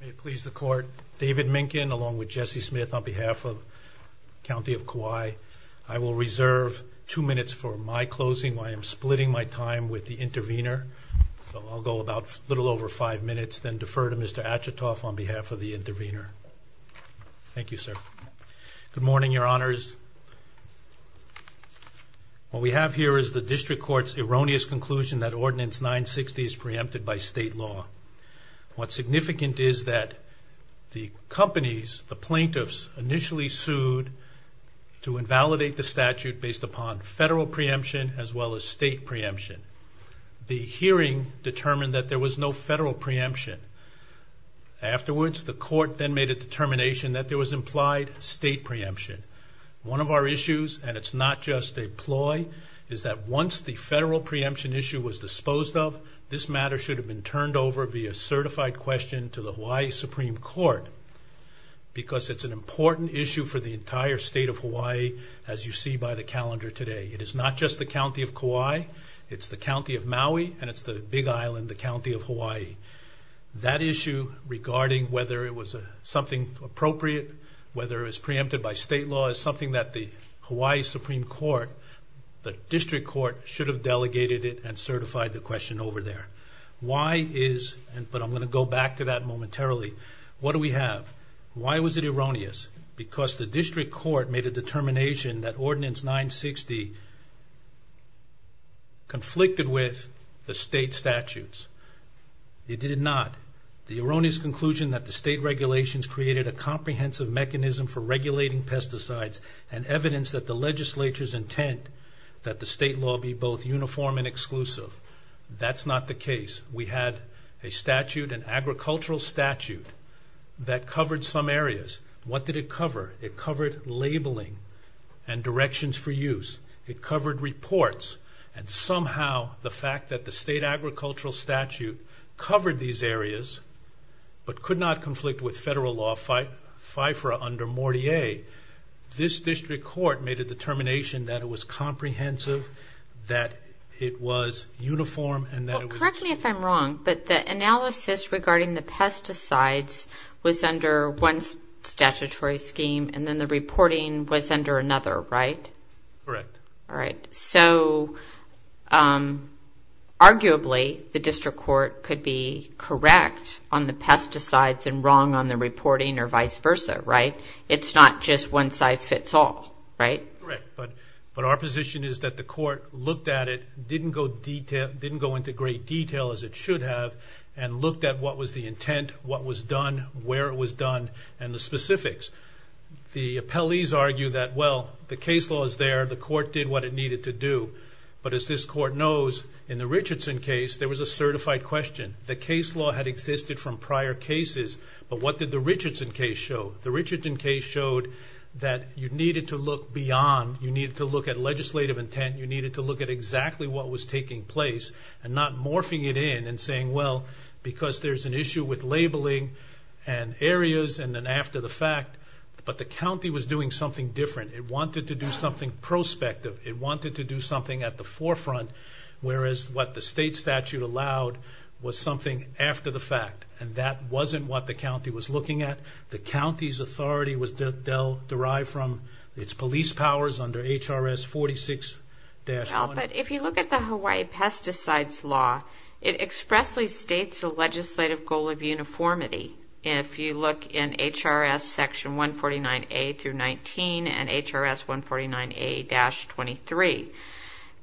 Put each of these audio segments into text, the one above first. May it please the court, David Minkin along with Jesse Smith on behalf of County of Kauai. I will reserve two minutes for my closing while I am splitting my time with the intervener. So I'll go about a little over five minutes then defer to Mr. Achetoff on behalf of the intervener. Thank you sir. Good morning your honors. What we have here is the district court's erroneous conclusion that Ordinance 960 is preempted by state law. What's significant is that the companies, the plaintiffs, initially sued to invalidate the statute based upon federal preemption as well as state preemption. The hearing determined that there was no federal preemption. Afterwards the court then made a determination that there was implied state preemption. One of our issue was disposed of. This matter should have been turned over via certified question to the Hawaii Supreme Court because it's an important issue for the entire state of Hawaii. As you see by the calendar today, it is not just the county of Kauai, it's the county of Maui and it's the big island, the county of Hawaii. That issue regarding whether it was something appropriate, whether it was preempted by state law, is something that the Hawaii Supreme Court, the district court, should have delegated it and certified the question over there. Why is, but I'm going to go back to that momentarily, what do we have? Why was it erroneous? Because the district court made a determination that Ordinance 960 conflicted with the state statutes. It did not. The erroneous conclusion that the state regulations created a comprehensive mechanism for regulating legislature's intent that the state law be both uniform and exclusive. That's not the case. We had a statute, an agricultural statute, that covered some areas. What did it cover? It covered labeling and directions for use. It covered reports and somehow the fact that the state agricultural statute covered these areas but could not conflict with federal law FIFRA under 48, this district court made a determination that it was comprehensive, that it was uniform, and that it was... Well, correct me if I'm wrong, but the analysis regarding the pesticides was under one statutory scheme and then the reporting was under another, right? Correct. Alright. So arguably, the district court could be correct on the pesticides and wrong on the reporting or vice versa, right? It's not just one size fits all, right? Correct, but our position is that the court looked at it, didn't go into great detail as it should have, and looked at what was the intent, what was done, where it was done, and the specifics. The appellees argue that, well, the case law is there, the court did what it needed to do, but as this court knows, in the Richardson case, there was a certified question. The case law had existed from prior cases, but what did the Richardson case show? The Richardson case showed that you needed to look beyond, you needed to look at legislative intent, you needed to look at exactly what was taking place and not morphing it in and saying, well, because there's an issue with labeling and areas and then after the fact, but the county was doing something different. It wanted to do something prospective, it wanted to do something at the forefront, whereas what the state statute allowed was something after the county was looking at. The county's authority was derived from its police powers under HRS 46-1. Well, but if you look at the Hawaii Pesticides Law, it expressly states the legislative goal of uniformity, if you look in HRS section 149A through 19 and HRS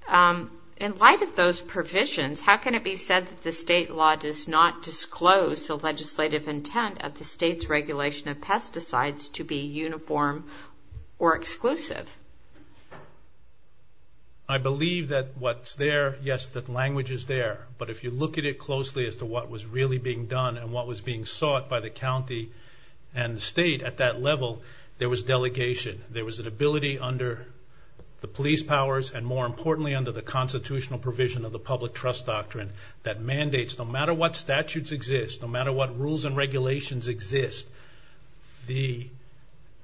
149A-23. In light of those provisions, how can it be said that the state law does not disclose the legislative intent of the state's regulation of pesticides to be uniform or exclusive? I believe that what's there, yes, that language is there, but if you look at it closely as to what was really being done and what was being sought by the county and the state at that level, there was delegation. There was an ability under the police powers and more importantly, under the constitutional provision of the public trust doctrine that mandates no matter what statutes exist, no matter what rules and regulations exist, the...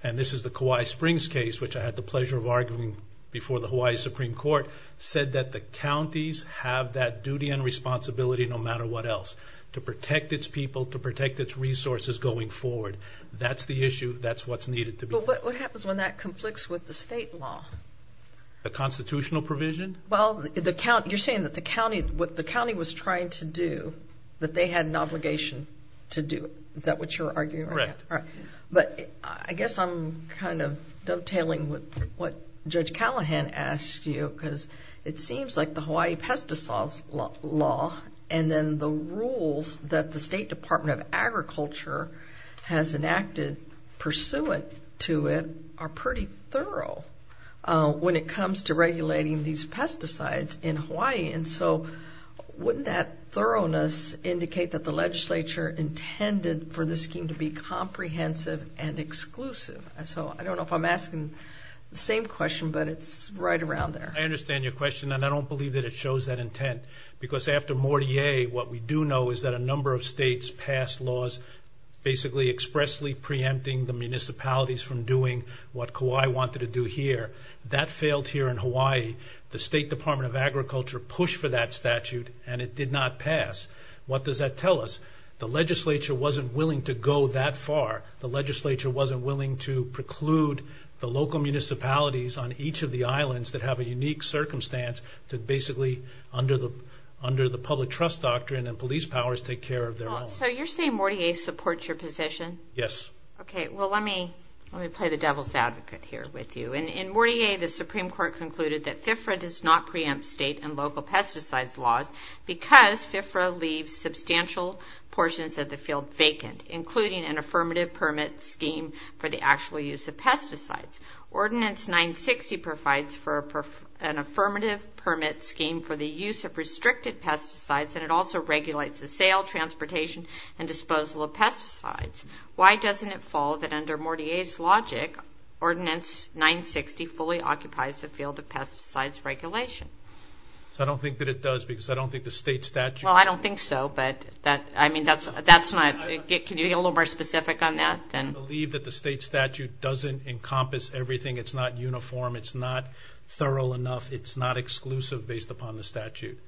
And this is the Kauai Springs case, which I had the pleasure of arguing before the Hawaii Supreme Court, said that the counties have that duty and responsibility no matter what else, to protect its people, to protect its resources going forward. That's the issue, that's what's needed to be... But what happens when that conflicts with the state law? The constitutional provision? Well, you're saying that the county, what they had an obligation to do it. Is that what you're arguing? Right. All right. But I guess I'm kind of dovetailing with what Judge Callahan asked you, because it seems like the Hawaii Pesticides Law and then the rules that the State Department of Agriculture has enacted pursuant to it are pretty thorough when it comes to regulating these pesticides in the state. And it does indicate that the legislature intended for this scheme to be comprehensive and exclusive. So I don't know if I'm asking the same question, but it's right around there. I understand your question, and I don't believe that it shows that intent. Because after Mortier, what we do know is that a number of states passed laws, basically expressly preempting the municipalities from doing what Kauai wanted to do here. That failed here in Hawaii. The State Department of Agriculture pushed for that statute, and it did not pass. What does that tell us? The legislature wasn't willing to go that far. The legislature wasn't willing to preclude the local municipalities on each of the islands that have a unique circumstance to basically, under the public trust doctrine and police powers, take care of their own. So you're saying Mortier supports your position? Yes. Okay. Well, let me play the devil's advocate here with you. In Mortier, the Supreme Court concluded that FIFRA does not preempt state and local pesticides laws because FIFRA leaves substantial portions of the field vacant, including an affirmative permit scheme for the actual use of pesticides. Ordinance 960 provides for an affirmative permit scheme for the use of restricted pesticides, and it also regulates the sale, transportation, and disposal of pesticides. Why doesn't it fall that under Mortier's logic, Ordinance 960 fully occupies the field of pesticides regulation? I don't think that it does, because I don't think the state statute... Well, I don't think so, but that's not... Can you be a little more specific on that? I believe that the state statute doesn't encompass everything. It's not uniform. It's not thorough enough. It's not exclusive based upon the statute.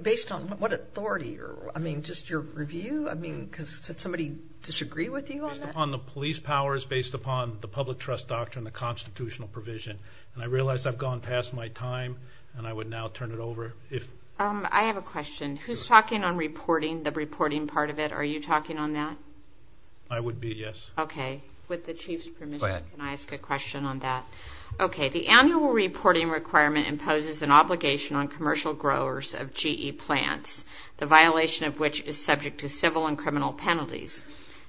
Based on what authority? I mean, just your review? I mean, does somebody disagree with you on that? Based upon the police powers, based upon the public trust doctrine, the constitutional provision. And I realize I've gone past my time, and I would now turn it over if... I have a question. Who's talking on reporting, the reporting part of it? Are you talking on that? I would be, yes. Okay. With the Chief's permission, can I ask a question on that? Okay. The annual reporting requirement imposes an obligation on commercial growers of GE plants, the violation of which is subject to civil and criminal penalties.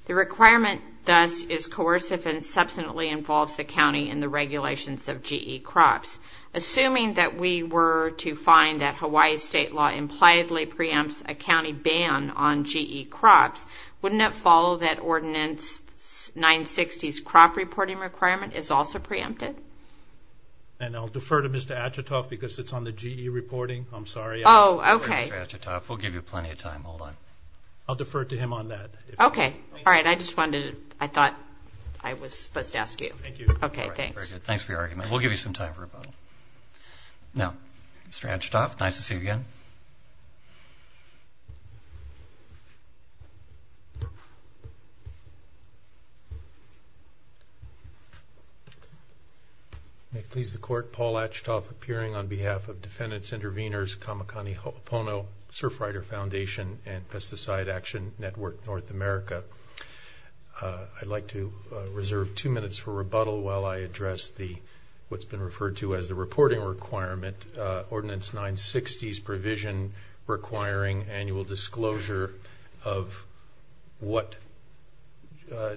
The requirement, thus, is coercive and substantially involves the county in the regulations of GE crops. Assuming that we were to find that Hawaii's state law impliedly preempts a county ban on GE crops, wouldn't it follow that Ordinance 960's crop reporting requirement is also preempted? And I'll defer to Mr. Atchitoff because it's on the GE reporting. I'm sorry. Oh, okay. Mr. Atchitoff, we'll give you plenty of time. Hold on. I'll defer to him on that. Okay. All right. I just wanted to... I thought I was supposed to ask you. Thank you. Okay. Thanks. Very good. Thanks for your argument. We'll give you some time for rebuttal. Now, Mr. Atchitoff, nice to see you again. May it please the court, Paul Atchitoff, appearing on behalf of Defendants Intervenors, Kamakani Pono, Surfrider Foundation, and Pesticide Action Network North America. I'd like to reserve two minutes for rebuttal while I address what's been referred to as the reporting requirement, Ordinance 960's provision requiring annual disclosure of what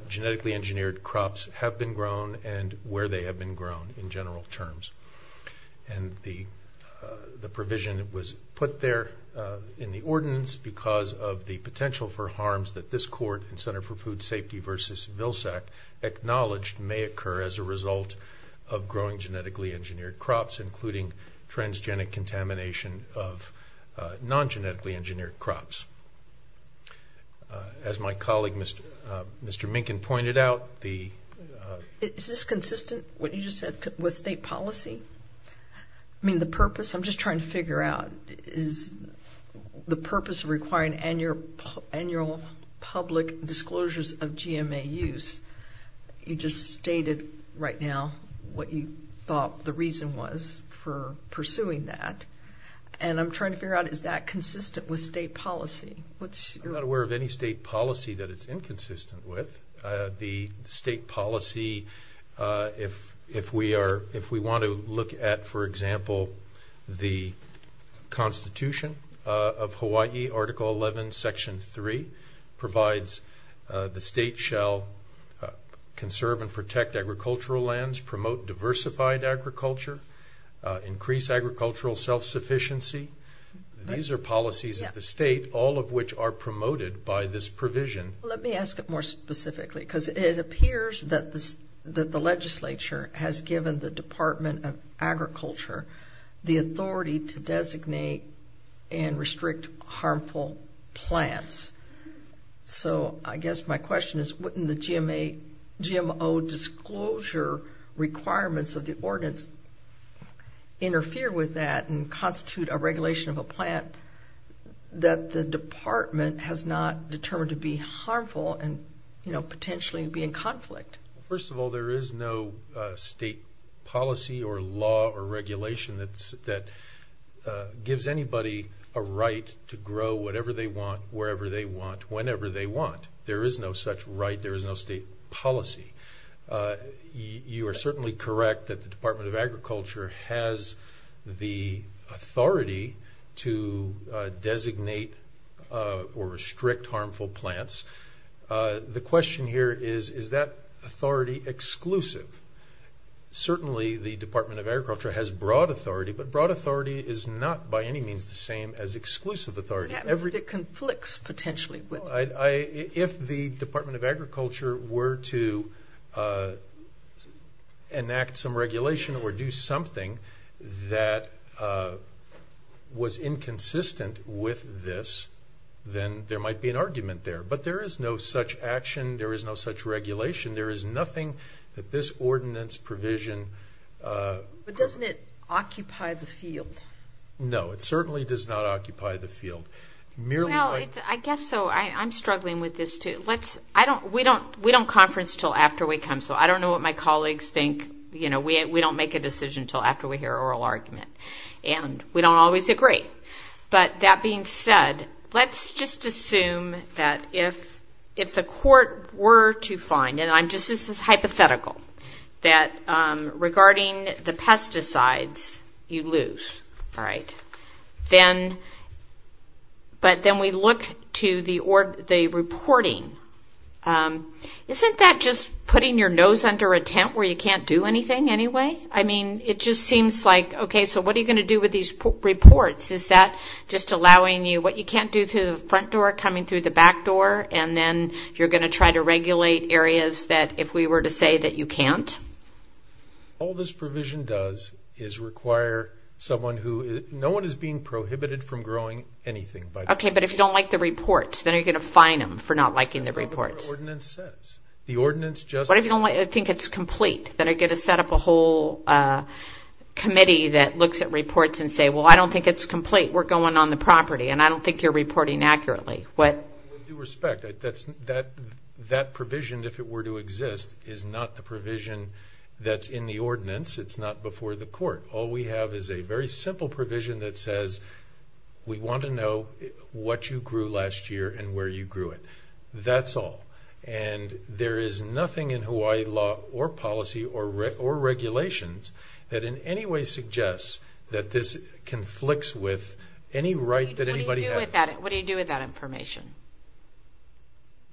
genetically engineered crops have been grown and where they have been grown in general terms. And the provision was put there in the ordinance because of the potential for harms that this court and Center for Food Safety versus Vilsack acknowledged may occur as a result of growing genetically engineered crops, including transgenic contamination of non-genetically engineered crops. As my colleague, Mr. Minkin, pointed out, the... Is this consistent, what you just said, with state policy? I mean, the purpose... I'm just trying to figure out, is the purpose of requiring annual public disclosures of GMA use, you just stated right now what you thought the reason was for pursuing that. And I'm trying to figure out, is that consistent with state policy? What's your... I'm not aware of any state policy that it's inconsistent with. The state policy, if we are... If we want to look at, for example, the Constitution of Hawaii, Article 11, Section 3 provides the state shall conserve and protect agricultural lands, promote diversified agriculture, increase agricultural self sufficiency. These are policies of the state, all of which are promoted by this provision. Let me ask it more specifically, because it appears that the legislature has given the Department of Agriculture the authority to designate and restrict harmful plants. So, I guess my question is, wouldn't the GMO disclosure requirements of the ordinance interfere with that and constitute a regulation of a plant that the department has not determined to be harmful and potentially be in a policy or law or regulation that gives anybody a right to grow whatever they want, wherever they want, whenever they want? There is no such right, there is no state policy. You are certainly correct that the Department of Agriculture has the authority to designate or restrict harmful plants. The question here is, is that authority exclusive? Certainly, the Department of Agriculture has broad authority, but broad authority is not by any means the same as exclusive authority. It conflicts potentially with... If the Department of Agriculture were to enact some regulation or do something that was inconsistent with this, then there might be an argument there. But there is no such action, there is no such regulation, there is nothing that this ordinance provision... But doesn't it occupy the field? No, it certainly does not occupy the field. I guess so, I'm struggling with this too. We don't conference until after we come, so I don't know what my colleagues think. We don't make a decision until after we hear an oral argument, and we don't always agree. But that being said, let's just assume that if the court were to find, and I'm just... This is hypothetical, that regarding the pesticides, you lose. But then we look to the reporting. Isn't that just putting your nose under a tent where you can't do anything anyway? It just seems like, okay, so what are you going to do with these reports? Is that just allowing you... What you can't do through the front door, coming through the back door, and then you're going to try to regulate areas that if we were to say that you can't? All this provision does is require someone who... No one is being prohibited from growing anything by... Okay, but if you don't like the reports, then are you going to fine them for not liking the reports? That's not what the ordinance says. The ordinance just... What if you don't think it's complete? Then I get to set up a whole committee that looks at reports and say, well, I don't think it's complete, we're going on the property, and I don't think you're reporting accurately. With due respect, that provision, if it were to exist, is not the provision that's in the ordinance, it's not before the court. All we have is a very simple provision that says, we want to know what you grew last year and where you grew it. That's all. And there is nothing in Hawaii law or policy or regulations that in any way suggests that this conflicts with any right that anybody has. What do you do with that information?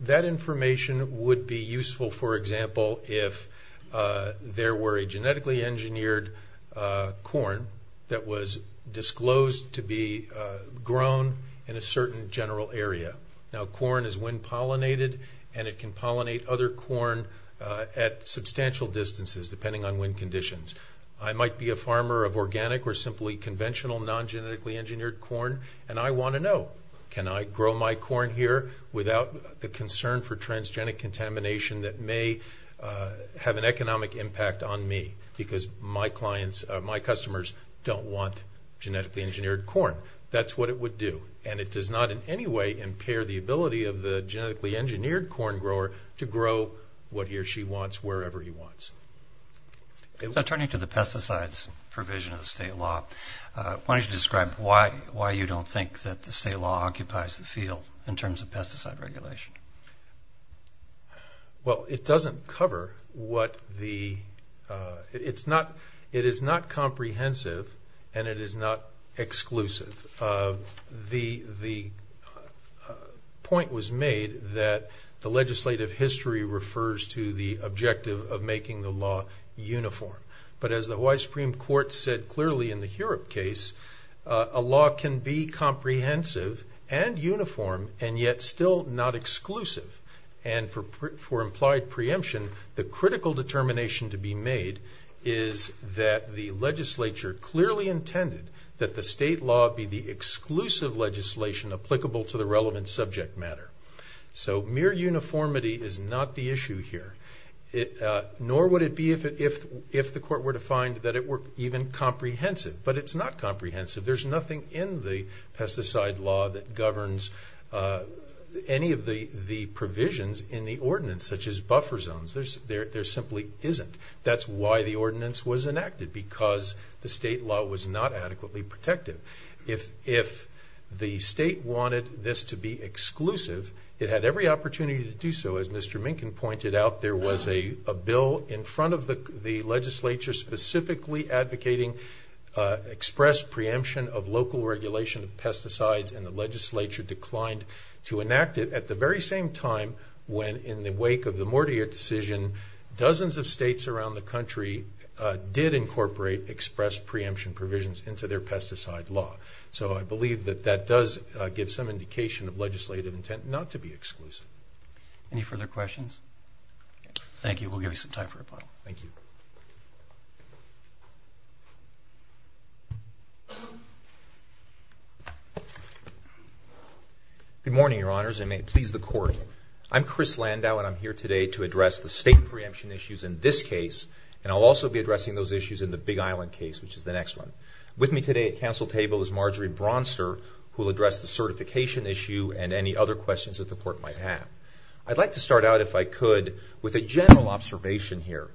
That information would be useful, for example, if there were a genetically engineered corn that was disclosed to be grown in a certain general area. Now, corn is wind pollinated and it can pollinate other corn at substantial distances, depending on wind conditions. I might be a farmer of organic or simply conventional non genetically engineered corn and I want to know, can I grow my corn here without the concern for transgenic contamination that may have an economic impact on me, because my customers don't want genetically engineered corn. That's what it would do. And it does not in any way impair the ability of the genetically engineered corn grower to grow what he or she wants wherever he wants. So turning to the pesticides provision of the state law, why don't you describe why you don't think that the state law occupies the field in terms of pesticide regulation? Well, it doesn't cover what the... It is not comprehensive and it is not exclusive. The point was made that the legislative history refers to the objective of making the law uniform. But as the Hawaii Supreme Court said clearly in the Heurope case, a law can be comprehensive and uniform and yet still not exclusive. And for implied preemption, the critical determination to be made is that the legislature clearly intended that the state law be the exclusive legislation applicable to the relevant subject matter. So mere uniformity is not the issue here, nor would it be if the court were to find that it were even comprehensive. But it's not comprehensive. There's nothing in the pesticide law that governs any of the provisions in the ordinance, such as buffer zones. There simply isn't. That's why the ordinance was enacted, because the state law was not adequately protective. If the state wanted this to be exclusive, it had every opportunity to do so. As Mr. Minkin pointed out, there was a bill in front of the legislature specifically advocating express preemption of local regulation of pesticides, and the legislature declined to enact it at the very same time when, in the wake of the Mortier decision, dozens of states around the country did incorporate express preemption provisions into their pesticide law. So I believe that that does give some indication of legislative intent not to be exclusive. Any further questions? Thank you. We'll give you some time for a poll. Thank you. Good morning, Your Honors, and may it please the court. I'm Chris Landau, and I'm here today to address the state preemption issues in this case, and I'll also be addressing those issues in the Big Island case, which is the next one. With me today at council table is Marjorie Bronster, who will address the certification issue and any other questions that the court might have. I'd like to start out, if I could, with a general observation here.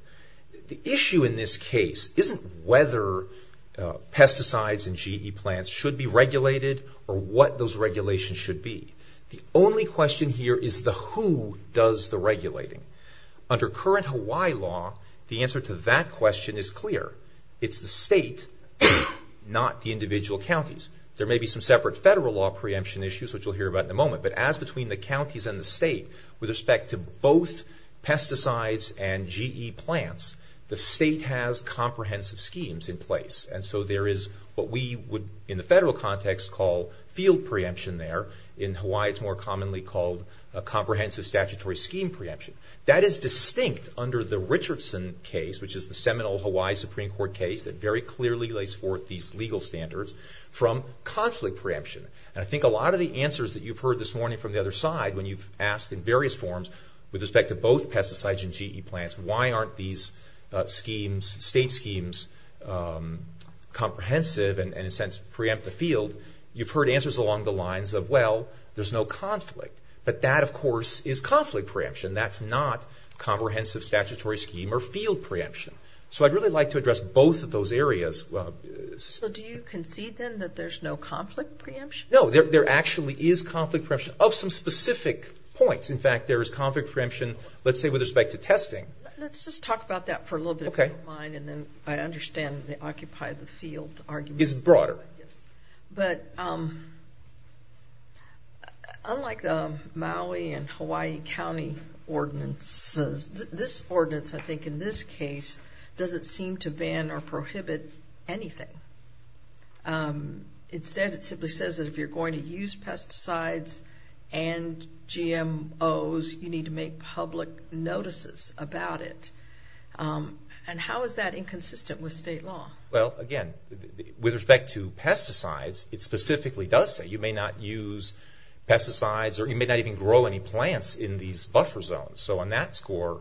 The issue in this case isn't whether pesticides and GE plants should be regulated or what those regulations should be. The only question here is the who does the regulating. Under current Hawaii law, the answer to that question is clear. It's the state, not the individual counties. There may be some separate federal law preemption issues, which we'll hear about in a moment, but as between the counties and the state, with respect to both pesticides and GE plants, the state has comprehensive schemes in place. And so there is what we would, in the federal context, call field preemption there. In Hawaii, it's more commonly called a comprehensive statutory scheme preemption. That is distinct under the Richardson case, which is the seminal Hawaii Supreme Court case that very clearly lays forth these legal standards, from conflict preemption. And I think a lot of the answers that you've heard this morning from the other side, when you've asked in various forms, with respect to both pesticides and GE plants, why aren't these schemes, state schemes, comprehensive and in a sense preempt the field, you've heard answers along the lines of, well, there's no conflict. But that, of course, is conflict preemption. That's not comprehensive statutory scheme or field preemption. So I'd really like to address both of those areas. So do you concede then that there's no conflict preemption? No, there actually is conflict preemption of some specific points. In fact, there is conflict preemption, let's say, with respect to testing. Let's just talk about that for a little bit, if you don't mind. And then I understand the occupy the field argument. Is broader. But unlike the Maui and Hawaii County ordinances, this ordinance, I think, in this case, doesn't seem to ban or prohibit anything. Instead, it simply says that if you're going to use pesticides and GMOs, you need to make public notices about it. And how is that inconsistent with state law? Well, again, with respect to pesticides, it specifically does say you may not use pesticides or you may not even grow any plants in these buffer zones. So on that score,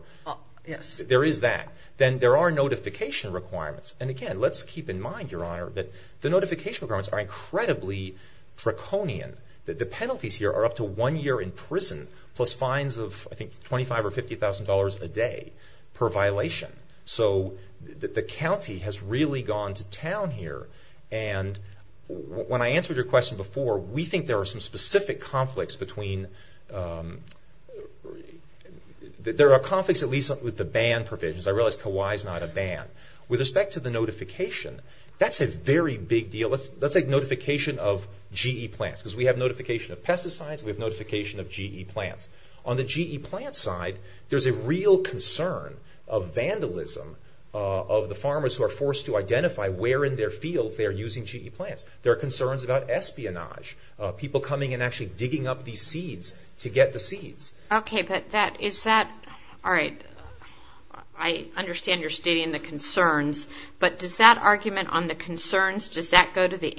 there is that. Then there are notification requirements. And again, let's keep in mind, Your Honor, that the notification requirements are incredibly draconian, that the penalties here are up to one year in prison, plus fines of, I think, $25,000 or $50,000 a day per violation. So the county has really gone to town here. And when I answered your question before, we think there are some specific conflicts between... There are conflicts, at least with the ban provisions. I realize Kauai is not a Let's say notification of GE plants, because we have notification of pesticides, we have notification of GE plants. On the GE plant side, there's a real concern of vandalism of the farmers who are forced to identify where in their fields they are using GE plants. There are concerns about espionage, people coming and actually digging up these seeds to get the seeds. Okay, but that is that... All right. I understand you're stating the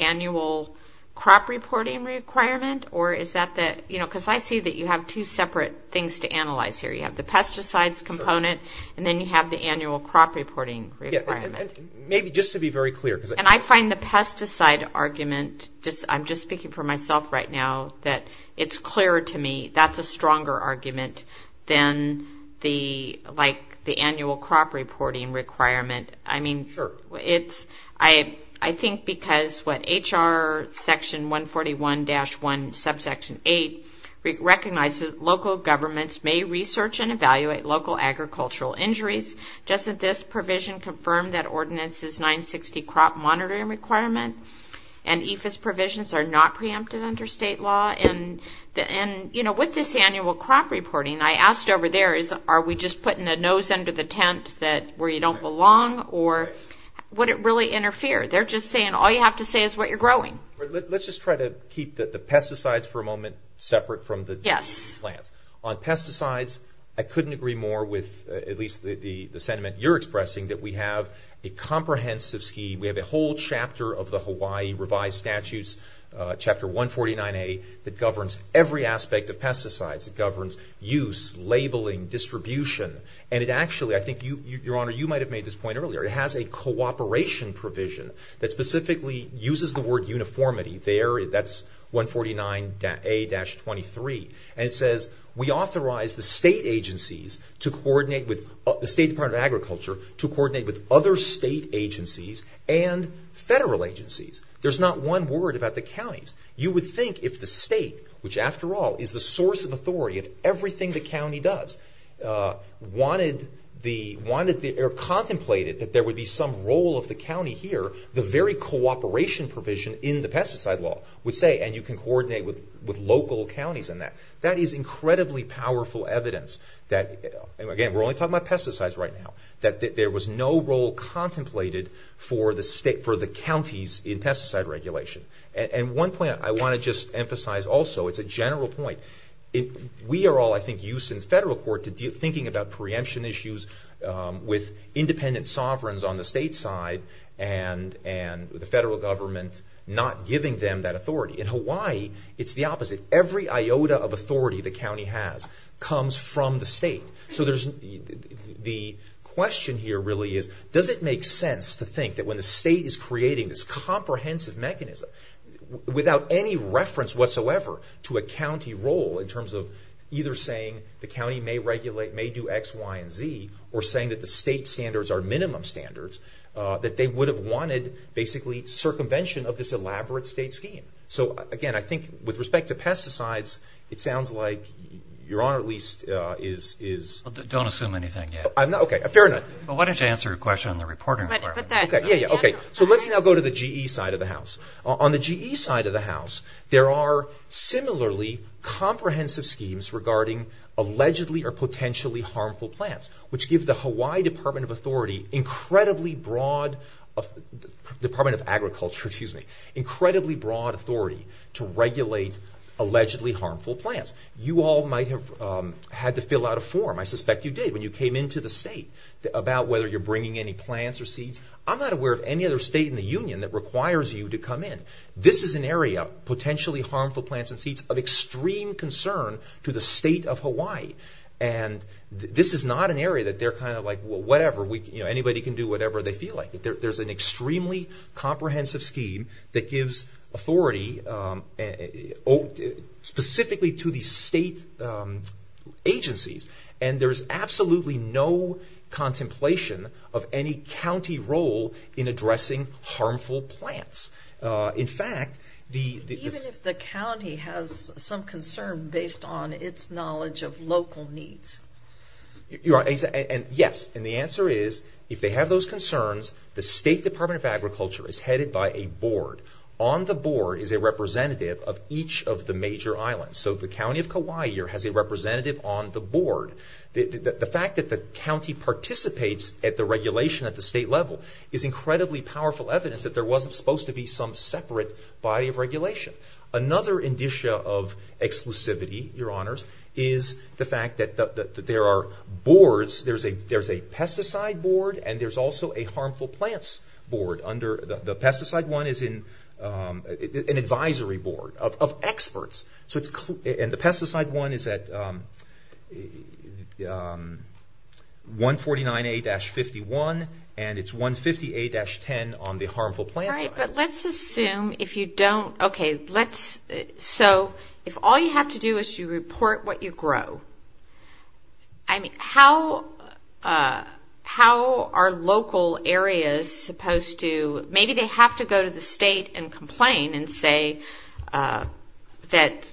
annual crop reporting requirement, or is that the... Because I see that you have two separate things to analyze here. You have the pesticides component, and then you have the annual crop reporting requirement. Yeah, and maybe just to be very clear, because... And I find the pesticide argument, I'm just speaking for myself right now, that it's clearer to me that's a stronger argument than the annual crop reporting requirement. Sure. I think because what HR section 141-1 subsection 8 recognizes local governments may research and evaluate local agricultural injuries. Doesn't this provision confirm that ordinances 960 crop monitoring requirement and EFAS provisions are not preempted under state law? And with this annual crop reporting, I asked over there is, are we just putting a nose under the tent where you don't belong, or would it really interfere? They're just saying, all you have to say is what you're growing. Let's just try to keep the pesticides for a moment separate from the... Yes. Plants. On pesticides, I couldn't agree more with, at least the sentiment you're expressing, that we have a comprehensive scheme. We have a whole chapter of the Hawaii revised statutes, chapter 149A, that governs every aspect of pesticides. It governs use, labeling, distribution. And it actually, I think, Your Honor, you might have made this point earlier. It has a cooperation provision that specifically uses the word uniformity. There, that's 149A-23. And it says, we authorize the state agencies to coordinate with... The State Department of Agriculture to coordinate with other state agencies and federal agencies. There's not one word about the counties. You would think if the state, which, after all, is the source of authority of everything the county does, contemplated that there would be some role of the county here, the very cooperation provision in the pesticide law would say, and you can coordinate with local counties in that. That is incredibly powerful evidence that... And again, we're only talking about pesticides right now, that there was no role contemplated for the counties in pesticide regulation. And one point I wanna just emphasize also, it's a general point. We are all, I think, used in federal court to thinking about preemption issues with independent sovereigns on the state side and the federal government not giving them that authority. In Hawaii, it's the opposite. Every iota of authority the county has comes from the state. So there's... The question here really is, does it make sense to think that when the state is creating this comprehensive mechanism without any reference whatsoever to a county role in terms of either saying the county may regulate, may do X, Y, and Z, or saying that the state standards are minimum standards, that they would have wanted basically circumvention of this elaborate state scheme? So again, I think with respect to pesticides, it sounds like your honor at least is... Don't assume anything yet. I'm not... Okay, fair enough. Well, why don't you answer a question on the reporting part? But that... Yeah, yeah, okay. So let's now go to the GE side of the house. On the GE side of the house, there are similarly comprehensive schemes regarding allegedly or potentially harmful plants, which give the Hawaii Department of Authority incredibly broad... Department of Agriculture, excuse me, incredibly broad authority to regulate allegedly harmful plants. You all might have had to fill out a form, I suspect you did when you came into the state, about whether you're bringing any plants or seeds. I'm not aware of any other state in the union that requires you to come in. This is an area, potentially harmful plants and seeds, of extreme concern to the state of Hawaii. And this is not an area that they're kind of like, well, whatever, anybody can do whatever they feel like. There's an extremely comprehensive scheme that gives authority specifically to the state agencies, and there's absolutely no contemplation of any county role in addressing harmful plants. In fact, the... Even if the county has some concern based on its knowledge of local needs. You're right. And yes, and the answer is, if they have those concerns, the State Department of Agriculture is headed by a board. On the board is a representative of each of the major islands. So the county of Kauai here has a representative on the board. The fact that the county participates at the regulation at the state level is incredibly powerful evidence that there wasn't supposed to be some separate body of regulation. Another indicia of exclusivity, your honors, is the fact that there are boards, there's a pesticide board and there's also a harmful plants board under... The pesticide one is an advisory board of experts. And the pesticide one is at 149A-51, and it's 158-10 on the harmful plants side. Right, but let's assume if you don't... Okay, let's... So if all you have to do is you report what you grow, I mean, how are local areas supposed to... Maybe they have to go to the state and complain and say that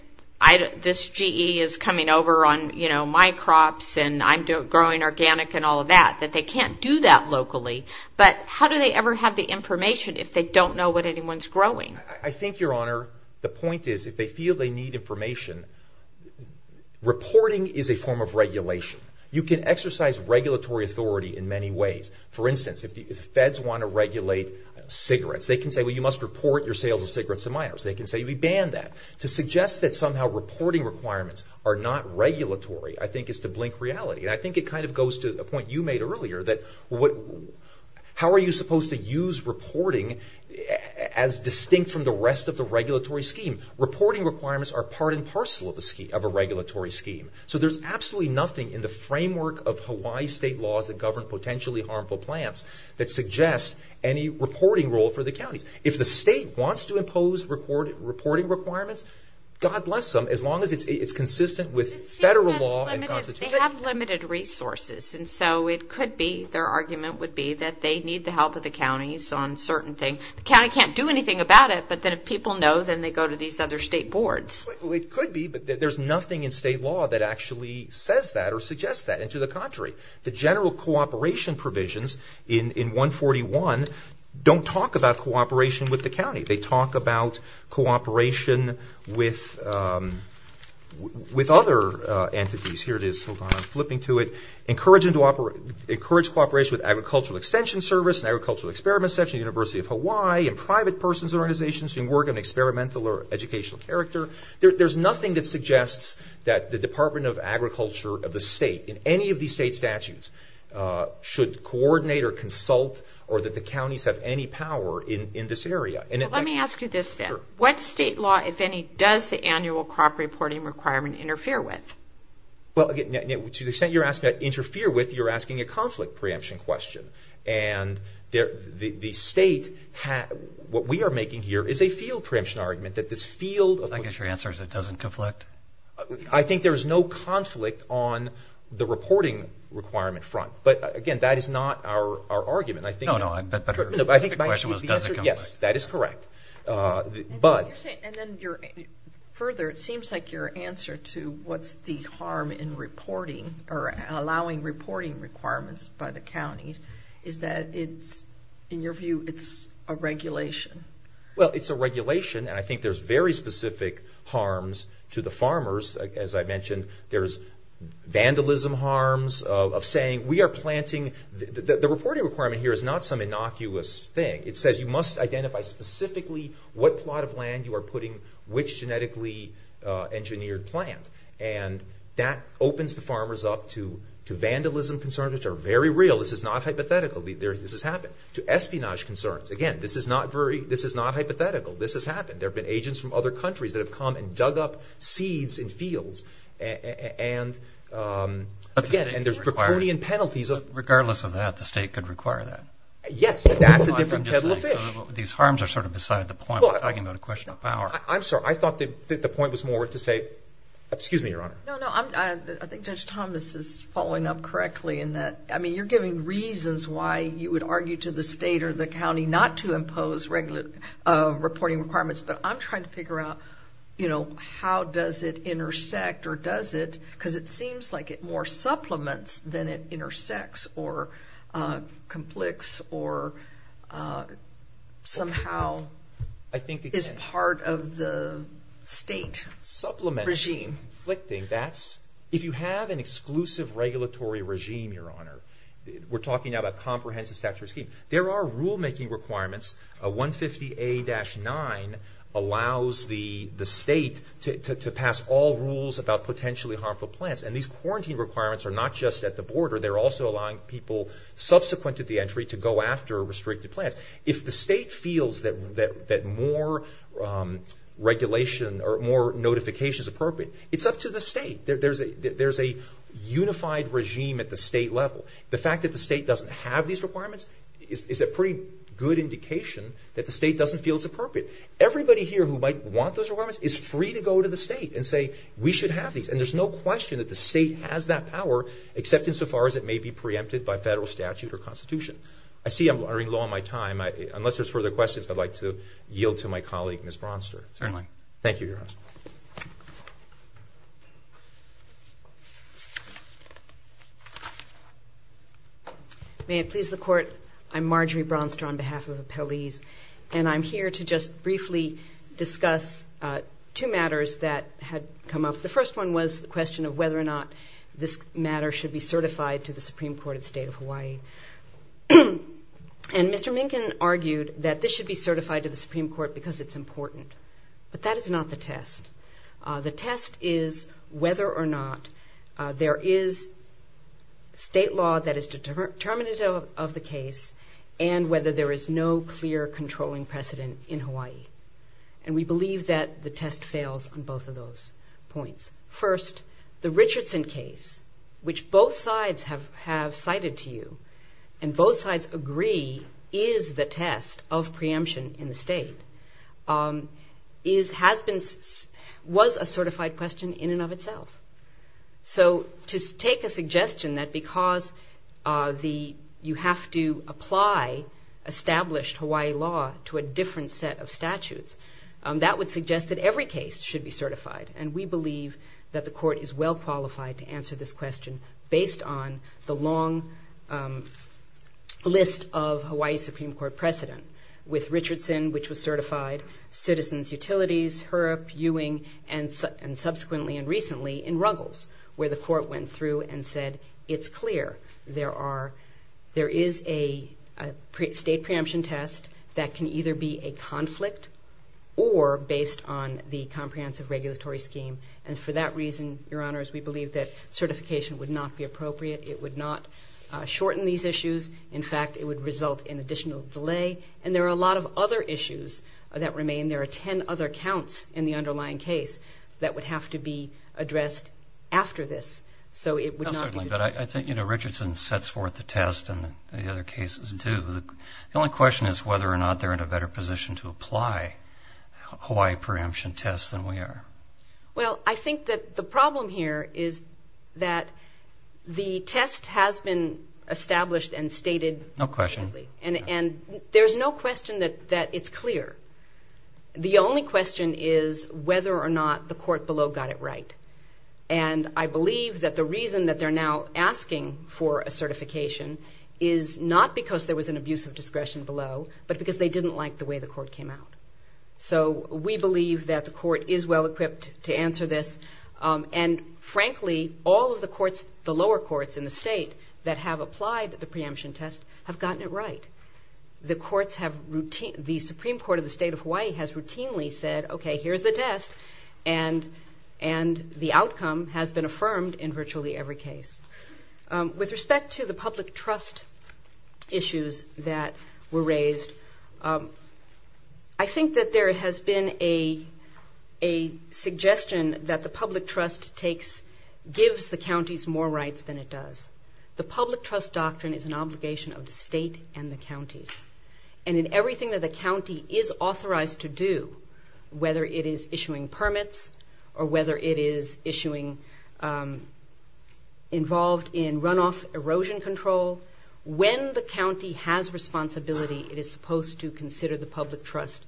this GE is coming over on my crops and I'm growing organic and all of that, that they can't do that locally. But how do they ever have the information if they don't know what anyone's growing? I think, your honor, the point is, if they feel they need information, reporting is a form of regulation. You can exercise regulatory authority in many ways. For instance, if the Feds want to regulate cigarettes, they can say, well, you must report your sales of cigarettes to minors. They can say, we ban that. To suggest that somehow reporting requirements are not regulatory, I think, is to blink reality. And I think it kind of goes to a point you made earlier, that how are you supposed to use reporting as distinct from the rest of the state? Reporting requirements are part and parcel of a regulatory scheme. So there's absolutely nothing in the framework of Hawaii state laws that govern potentially harmful plants that suggest any reporting role for the counties. If the state wants to impose reporting requirements, God bless them, as long as it's consistent with federal law and constitution. They have limited resources, and so it could be, their argument would be, that they need the help of the counties on certain things. The county can't do anything about it, but then if people know, then they go to these other state boards. Well, it could be, but there's nothing in state law that actually says that or suggests that. And to the contrary, the general cooperation provisions in 141 don't talk about cooperation with the county. They talk about cooperation with other entities. Here it is, hold on, I'm flipping to it. Encourage cooperation with Agricultural Extension Service and Agricultural Experiment Section, University of Hawaii, and private persons organizations who work on experimental or educational character. There's nothing that suggests that the Department of Agriculture of the state, in any of these state statutes, should coordinate or consult or that the counties have any power in this area. Let me ask you this then. What state law, if any, does the annual crop reporting requirement interfere with? Well, to the extent you're asking that interfere with, you're asking a field preemption argument that this field... I guess your answer is it doesn't conflict? I think there is no conflict on the reporting requirement front, but again, that is not our argument. No, no, I think the question was, does it conflict? Yes, that is correct. And then further, it seems like your answer to what's the harm in reporting or allowing reporting requirements by the counties is that it's, in your view, it's a regulation. Well, it's a regulation, and I think there's very specific harms to the farmers. As I mentioned, there's vandalism harms of saying, we are planting... The reporting requirement here is not some innocuous thing. It says you must identify specifically what plot of land you are putting which genetically engineered plant, and that opens the farmers up to vandalism concerns, which are very real. This is not hypothetical. This has happened. To espionage concerns, again, this is not hypothetical. This has happened. There have been agents from other countries that have come and dug up seeds in fields, and again, there's riparian penalties of... Regardless of that, the state could require that. Yes, and that's a different kettle of fish. These harms are sort of beside the point, but I can go to question of power. I'm sorry, I thought that the point was more to say... Excuse me, Your Honor. No, no, I think Judge Thomas is following up correctly in that, I mean, you're giving reasons why you would argue to the state or the county not to impose reporting requirements, but I'm trying to figure out how does it intersect or does it, because it seems like it more supplements than it intersects or conflicts or somehow is part of the state regime. Supplements, conflicting, that's... It's a cohesive regulatory regime, Your Honor. We're talking about a comprehensive statutory scheme. There are rule-making requirements. 150A-9 allows the state to pass all rules about potentially harmful plants, and these quarantine requirements are not just at the border. They're also allowing people subsequent to the entry to go after restricted plants. If the state feels that more regulation or more notification is appropriate, it's up to the state. There's a unified regime at the state level. The fact that the state doesn't have these requirements is a pretty good indication that the state doesn't feel it's appropriate. Everybody here who might want those requirements is free to go to the state and say, we should have these, and there's no question that the state has that power, except insofar as it may be preempted by federal statute or constitution. I see I'm running low on my time. Unless there's further questions, I'd like to yield to my colleague, Ms. Bronster. Certainly. Thank you, Your Honor. May it please the Court, I'm Marjorie Bronster on behalf of the appellees, and I'm here to just briefly discuss two matters that had come up. The first one was the question of whether or not this matter should be certified to the Supreme Court at State of Hawaii. And Mr. Minkin argued that this should be certified to the Supreme Court because it's important, but that is not the test. The test is whether or not there is state law that is determinative of the case, and whether there is no clear controlling precedent in Hawaii. And we believe that the test fails on both of those points. First, the Richardson case, which both sides have cited to you, and both was a certified question in and of itself. So to take a suggestion that because you have to apply established Hawaii law to a different set of statutes, that would suggest that every case should be certified. And we believe that the Court is well qualified to answer this question based on the long list of Hawaii Supreme Court precedent with Richardson, which was subsequently and recently in Ruggles, where the Court went through and said, it's clear there is a state preemption test that can either be a conflict or based on the comprehensive regulatory scheme. And for that reason, Your Honors, we believe that certification would not be appropriate. It would not shorten these issues. In fact, it would result in additional delay. And there are a lot of other issues that remain. There are 10 other counts in the underlying case that would have to be addressed after this. So it would not be appropriate. But I think, you know, Richardson sets forth the test, and the other cases do. The only question is whether or not they're in a better position to apply Hawaii preemption tests than we are. Well, I think that the problem here is that the test has been established and stated. No question. And there's no question that it's clear. The only question is whether or not the court below got it right. And I believe that the reason that they're now asking for a certification is not because there was an abuse of discretion below, but because they didn't like the way the court came out. So we believe that the court is well-equipped to answer this. And frankly, all of the courts, the lower courts in the state, that have gotten it right. The Supreme Court of the state of Hawaii has routinely said, OK, here's the test. And the outcome has been affirmed in virtually every case. With respect to the public trust issues that were raised, I think that there has been a suggestion that the public trust gives the counties more rights than it does. The public trust doctrine is an obligation of the state and the counties. And in everything that the county is authorized to do, whether it is issuing permits or whether it is issuing involved in runoff erosion control, when the county has responsibility, it is supposed to consider the public trust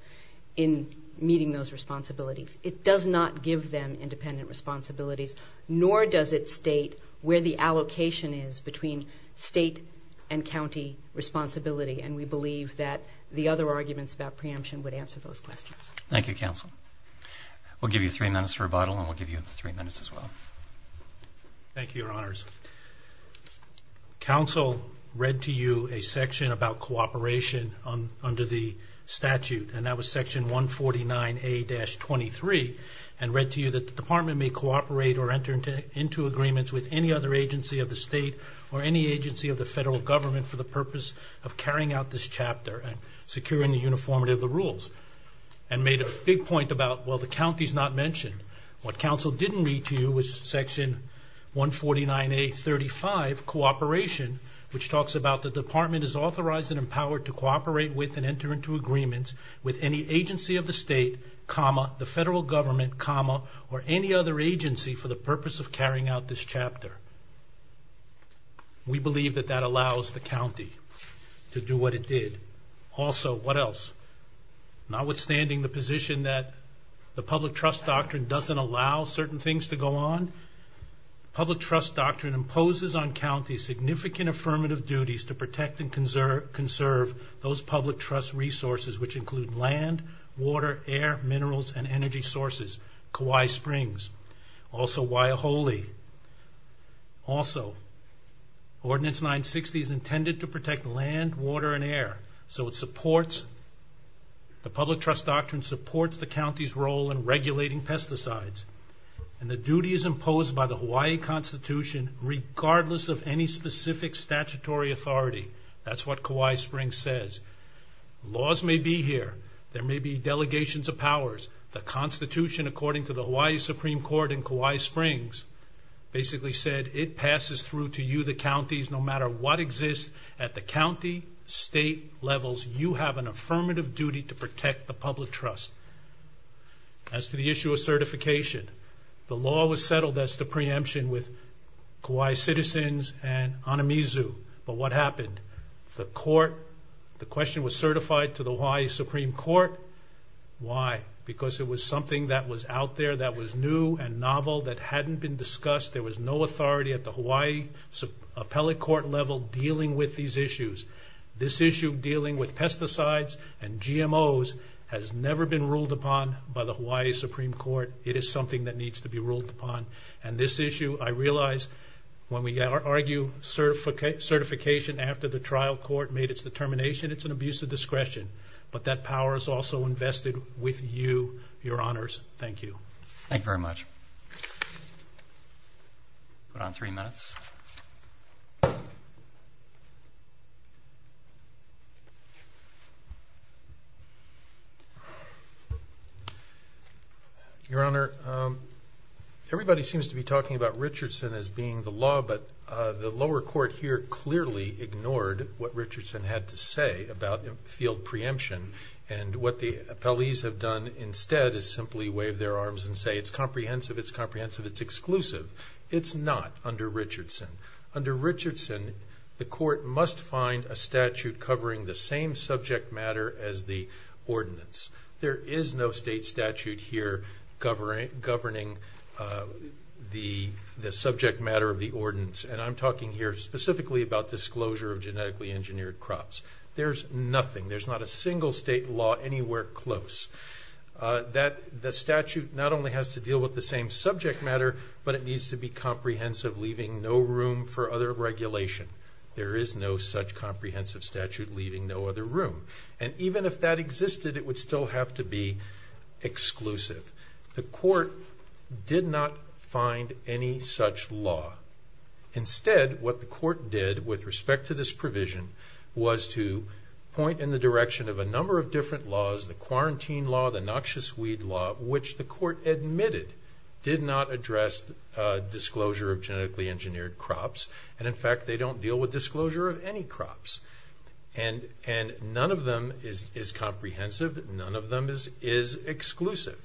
in meeting those responsibilities. It does not give them independent responsibilities, nor does it state where the allocation is between state and county responsibility. And we believe that the other arguments about preemption would answer those questions. Thank you, Counsel. We'll give you three minutes for rebuttal, and we'll give you three minutes as well. Thank you, Your Honors. Counsel read to you a section about cooperation under the statute, and that was section 149A-23, and read to you that the department may enter into agreements with any other agency of the state or any agency of the federal government for the purpose of carrying out this chapter and securing the uniformity of the rules. And made a big point about, well, the county is not mentioned. What Counsel didn't read to you was section 149A-35, cooperation, which talks about the department is authorized and empowered to cooperate with and enter into agreements with any agency of the state, comma, the federal government, comma, or any other agency for the purpose of carrying out this chapter. We believe that that allows the county to do what it did. Also, what else? Notwithstanding the position that the public trust doctrine doesn't allow certain things to go on, public trust doctrine imposes on counties significant affirmative duties to protect and conserve those public trust resources, which include land, water, air, minerals, and energy sources, Kauai Springs. Also, Waiahole. Also, Ordinance 960 is intended to protect land, water, and air. So it supports, the public trust doctrine supports the county's role in regulating pesticides. And the duty is imposed by the Hawaii Constitution regardless of any specific statutory authority. That's what Kauai Springs says. Laws may be here. There may be delegations of powers. The Constitution, according to the Hawaii Supreme Court in Kauai Springs, basically said, it passes through to you, the counties, no matter what exists at the county, state levels, you have an affirmative duty to protect the public trust. As to the issue of certification, the law was settled as to preemption with Kauai citizens and Anamizu, but what happened? The court, the question was certified to the Hawaii Supreme Court. Why? Because it was something that was out there that was new and novel that hadn't been discussed. There was no authority at the Hawaii Appellate Court level dealing with these issues. This issue dealing with pesticides and GMOs has never been ruled upon by the Hawaii Supreme Court. It is something that needs to be ruled upon. And this issue, I realize, when we argue certification after the trial court made its determination, it's an abuse of discretion. But that power is also invested with you, Your Honors. Thank you. Thank you very much. Put on three minutes. Your Honor, everybody seems to be talking about Richardson as being the law, but the lower court here clearly ignored what Richardson had to say about field preemption. And what the appellees have done instead is simply wave their arms and say it's comprehensive, it's comprehensive, it's exclusive. It's not under Richardson. Under Richardson, the court must find a statute covering the same subject matter as the ordinance. There is no state statute here governing the subject matter of the ordinance. And I'm talking here specifically about disclosure of genetically engineered crops. There's nothing. There's not a single state law anywhere close. The statute not only has to deal with the same subject matter, but it needs to be comprehensive, leaving no room for other regulation. There is no such comprehensive statute leaving no other room. And even if that existed, it would still have to be exclusive. The court did not find any such law. Instead, what the court did with respect to this provision was to point in the direction of a number of different laws, the quarantine law, the noxious weed law, which the court admitted did not address disclosure of genetically engineered crops. And in fact, they don't deal with disclosure of any crops. And none of them is comprehensive. None of them is exclusive.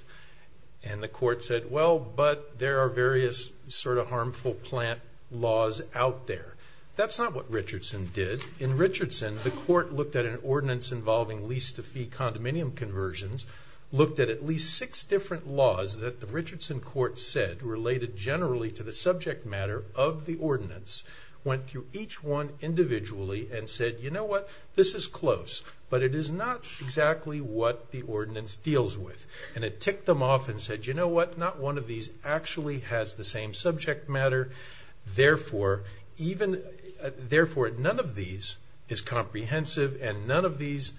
And the court said, well, but there are various sort of harmful plant laws out there. That's not what Richardson did. In Richardson, the court looked at an ordinance involving lease-to-fee condominium conversions, looked at at least six different laws that the Richardson court said related generally to the subject matter of the ordinance, went through each one individually, and said, you know what? This is close. But it is not exactly what the ordinance deals with. And it ticked them off and said, you know what? Not one of these actually has the same subject matter. Therefore, none of these is comprehensive. And none of these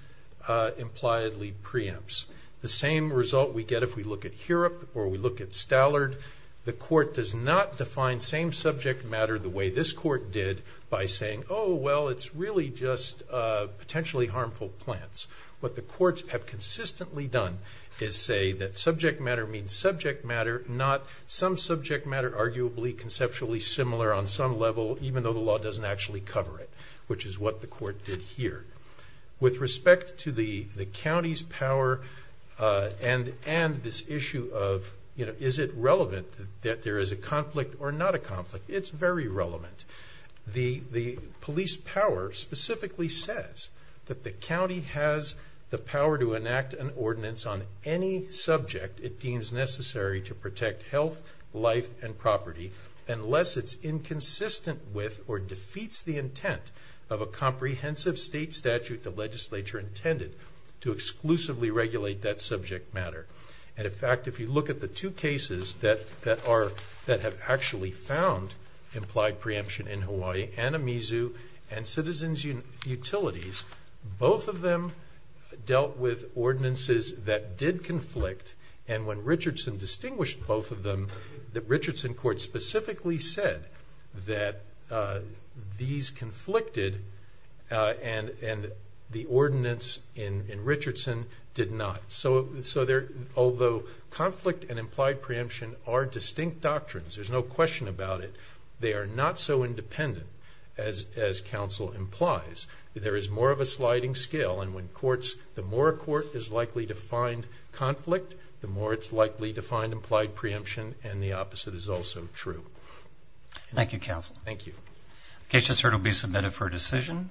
impliedly preempts. The same result we get if we look at Hurop or we look at Stallard. The court does not define same subject matter the way this court did by saying, oh, well, it's really just potentially harmful plants. What the courts have consistently done is say that subject matter means subject matter, not some subject matter arguably conceptually similar on some level, even though the law doesn't actually cover it, which is what the court did here. With respect to the county's power and this issue of, you know, is it relevant that there is a conflict or not a conflict? It's very relevant. The police power specifically says that the county has the power to enact an ordinance on any subject it deems necessary to protect health, life, and property unless it's inconsistent with or defeats the intent of a comprehensive state statute the legislature intended to exclusively regulate that subject matter. And in fact, if you look at the two cases that have actually found implied preemption in Hawaii, Anamizu and Citizens Utilities, both of them dealt with ordinances that did conflict. And when Richardson distinguished both of them, the Richardson court specifically said that these conflicted and the ordinance in Richardson did not. So although conflict and implied preemption are distinct doctrines, there's no question about it. They are not so independent as counsel implies. There is more of a sliding scale, and when courts, the more a court is likely to find conflict, the more it's likely to find implied preemption, and the opposite is also true. Thank you, counsel. Thank you. Case just heard will be submitted for decision.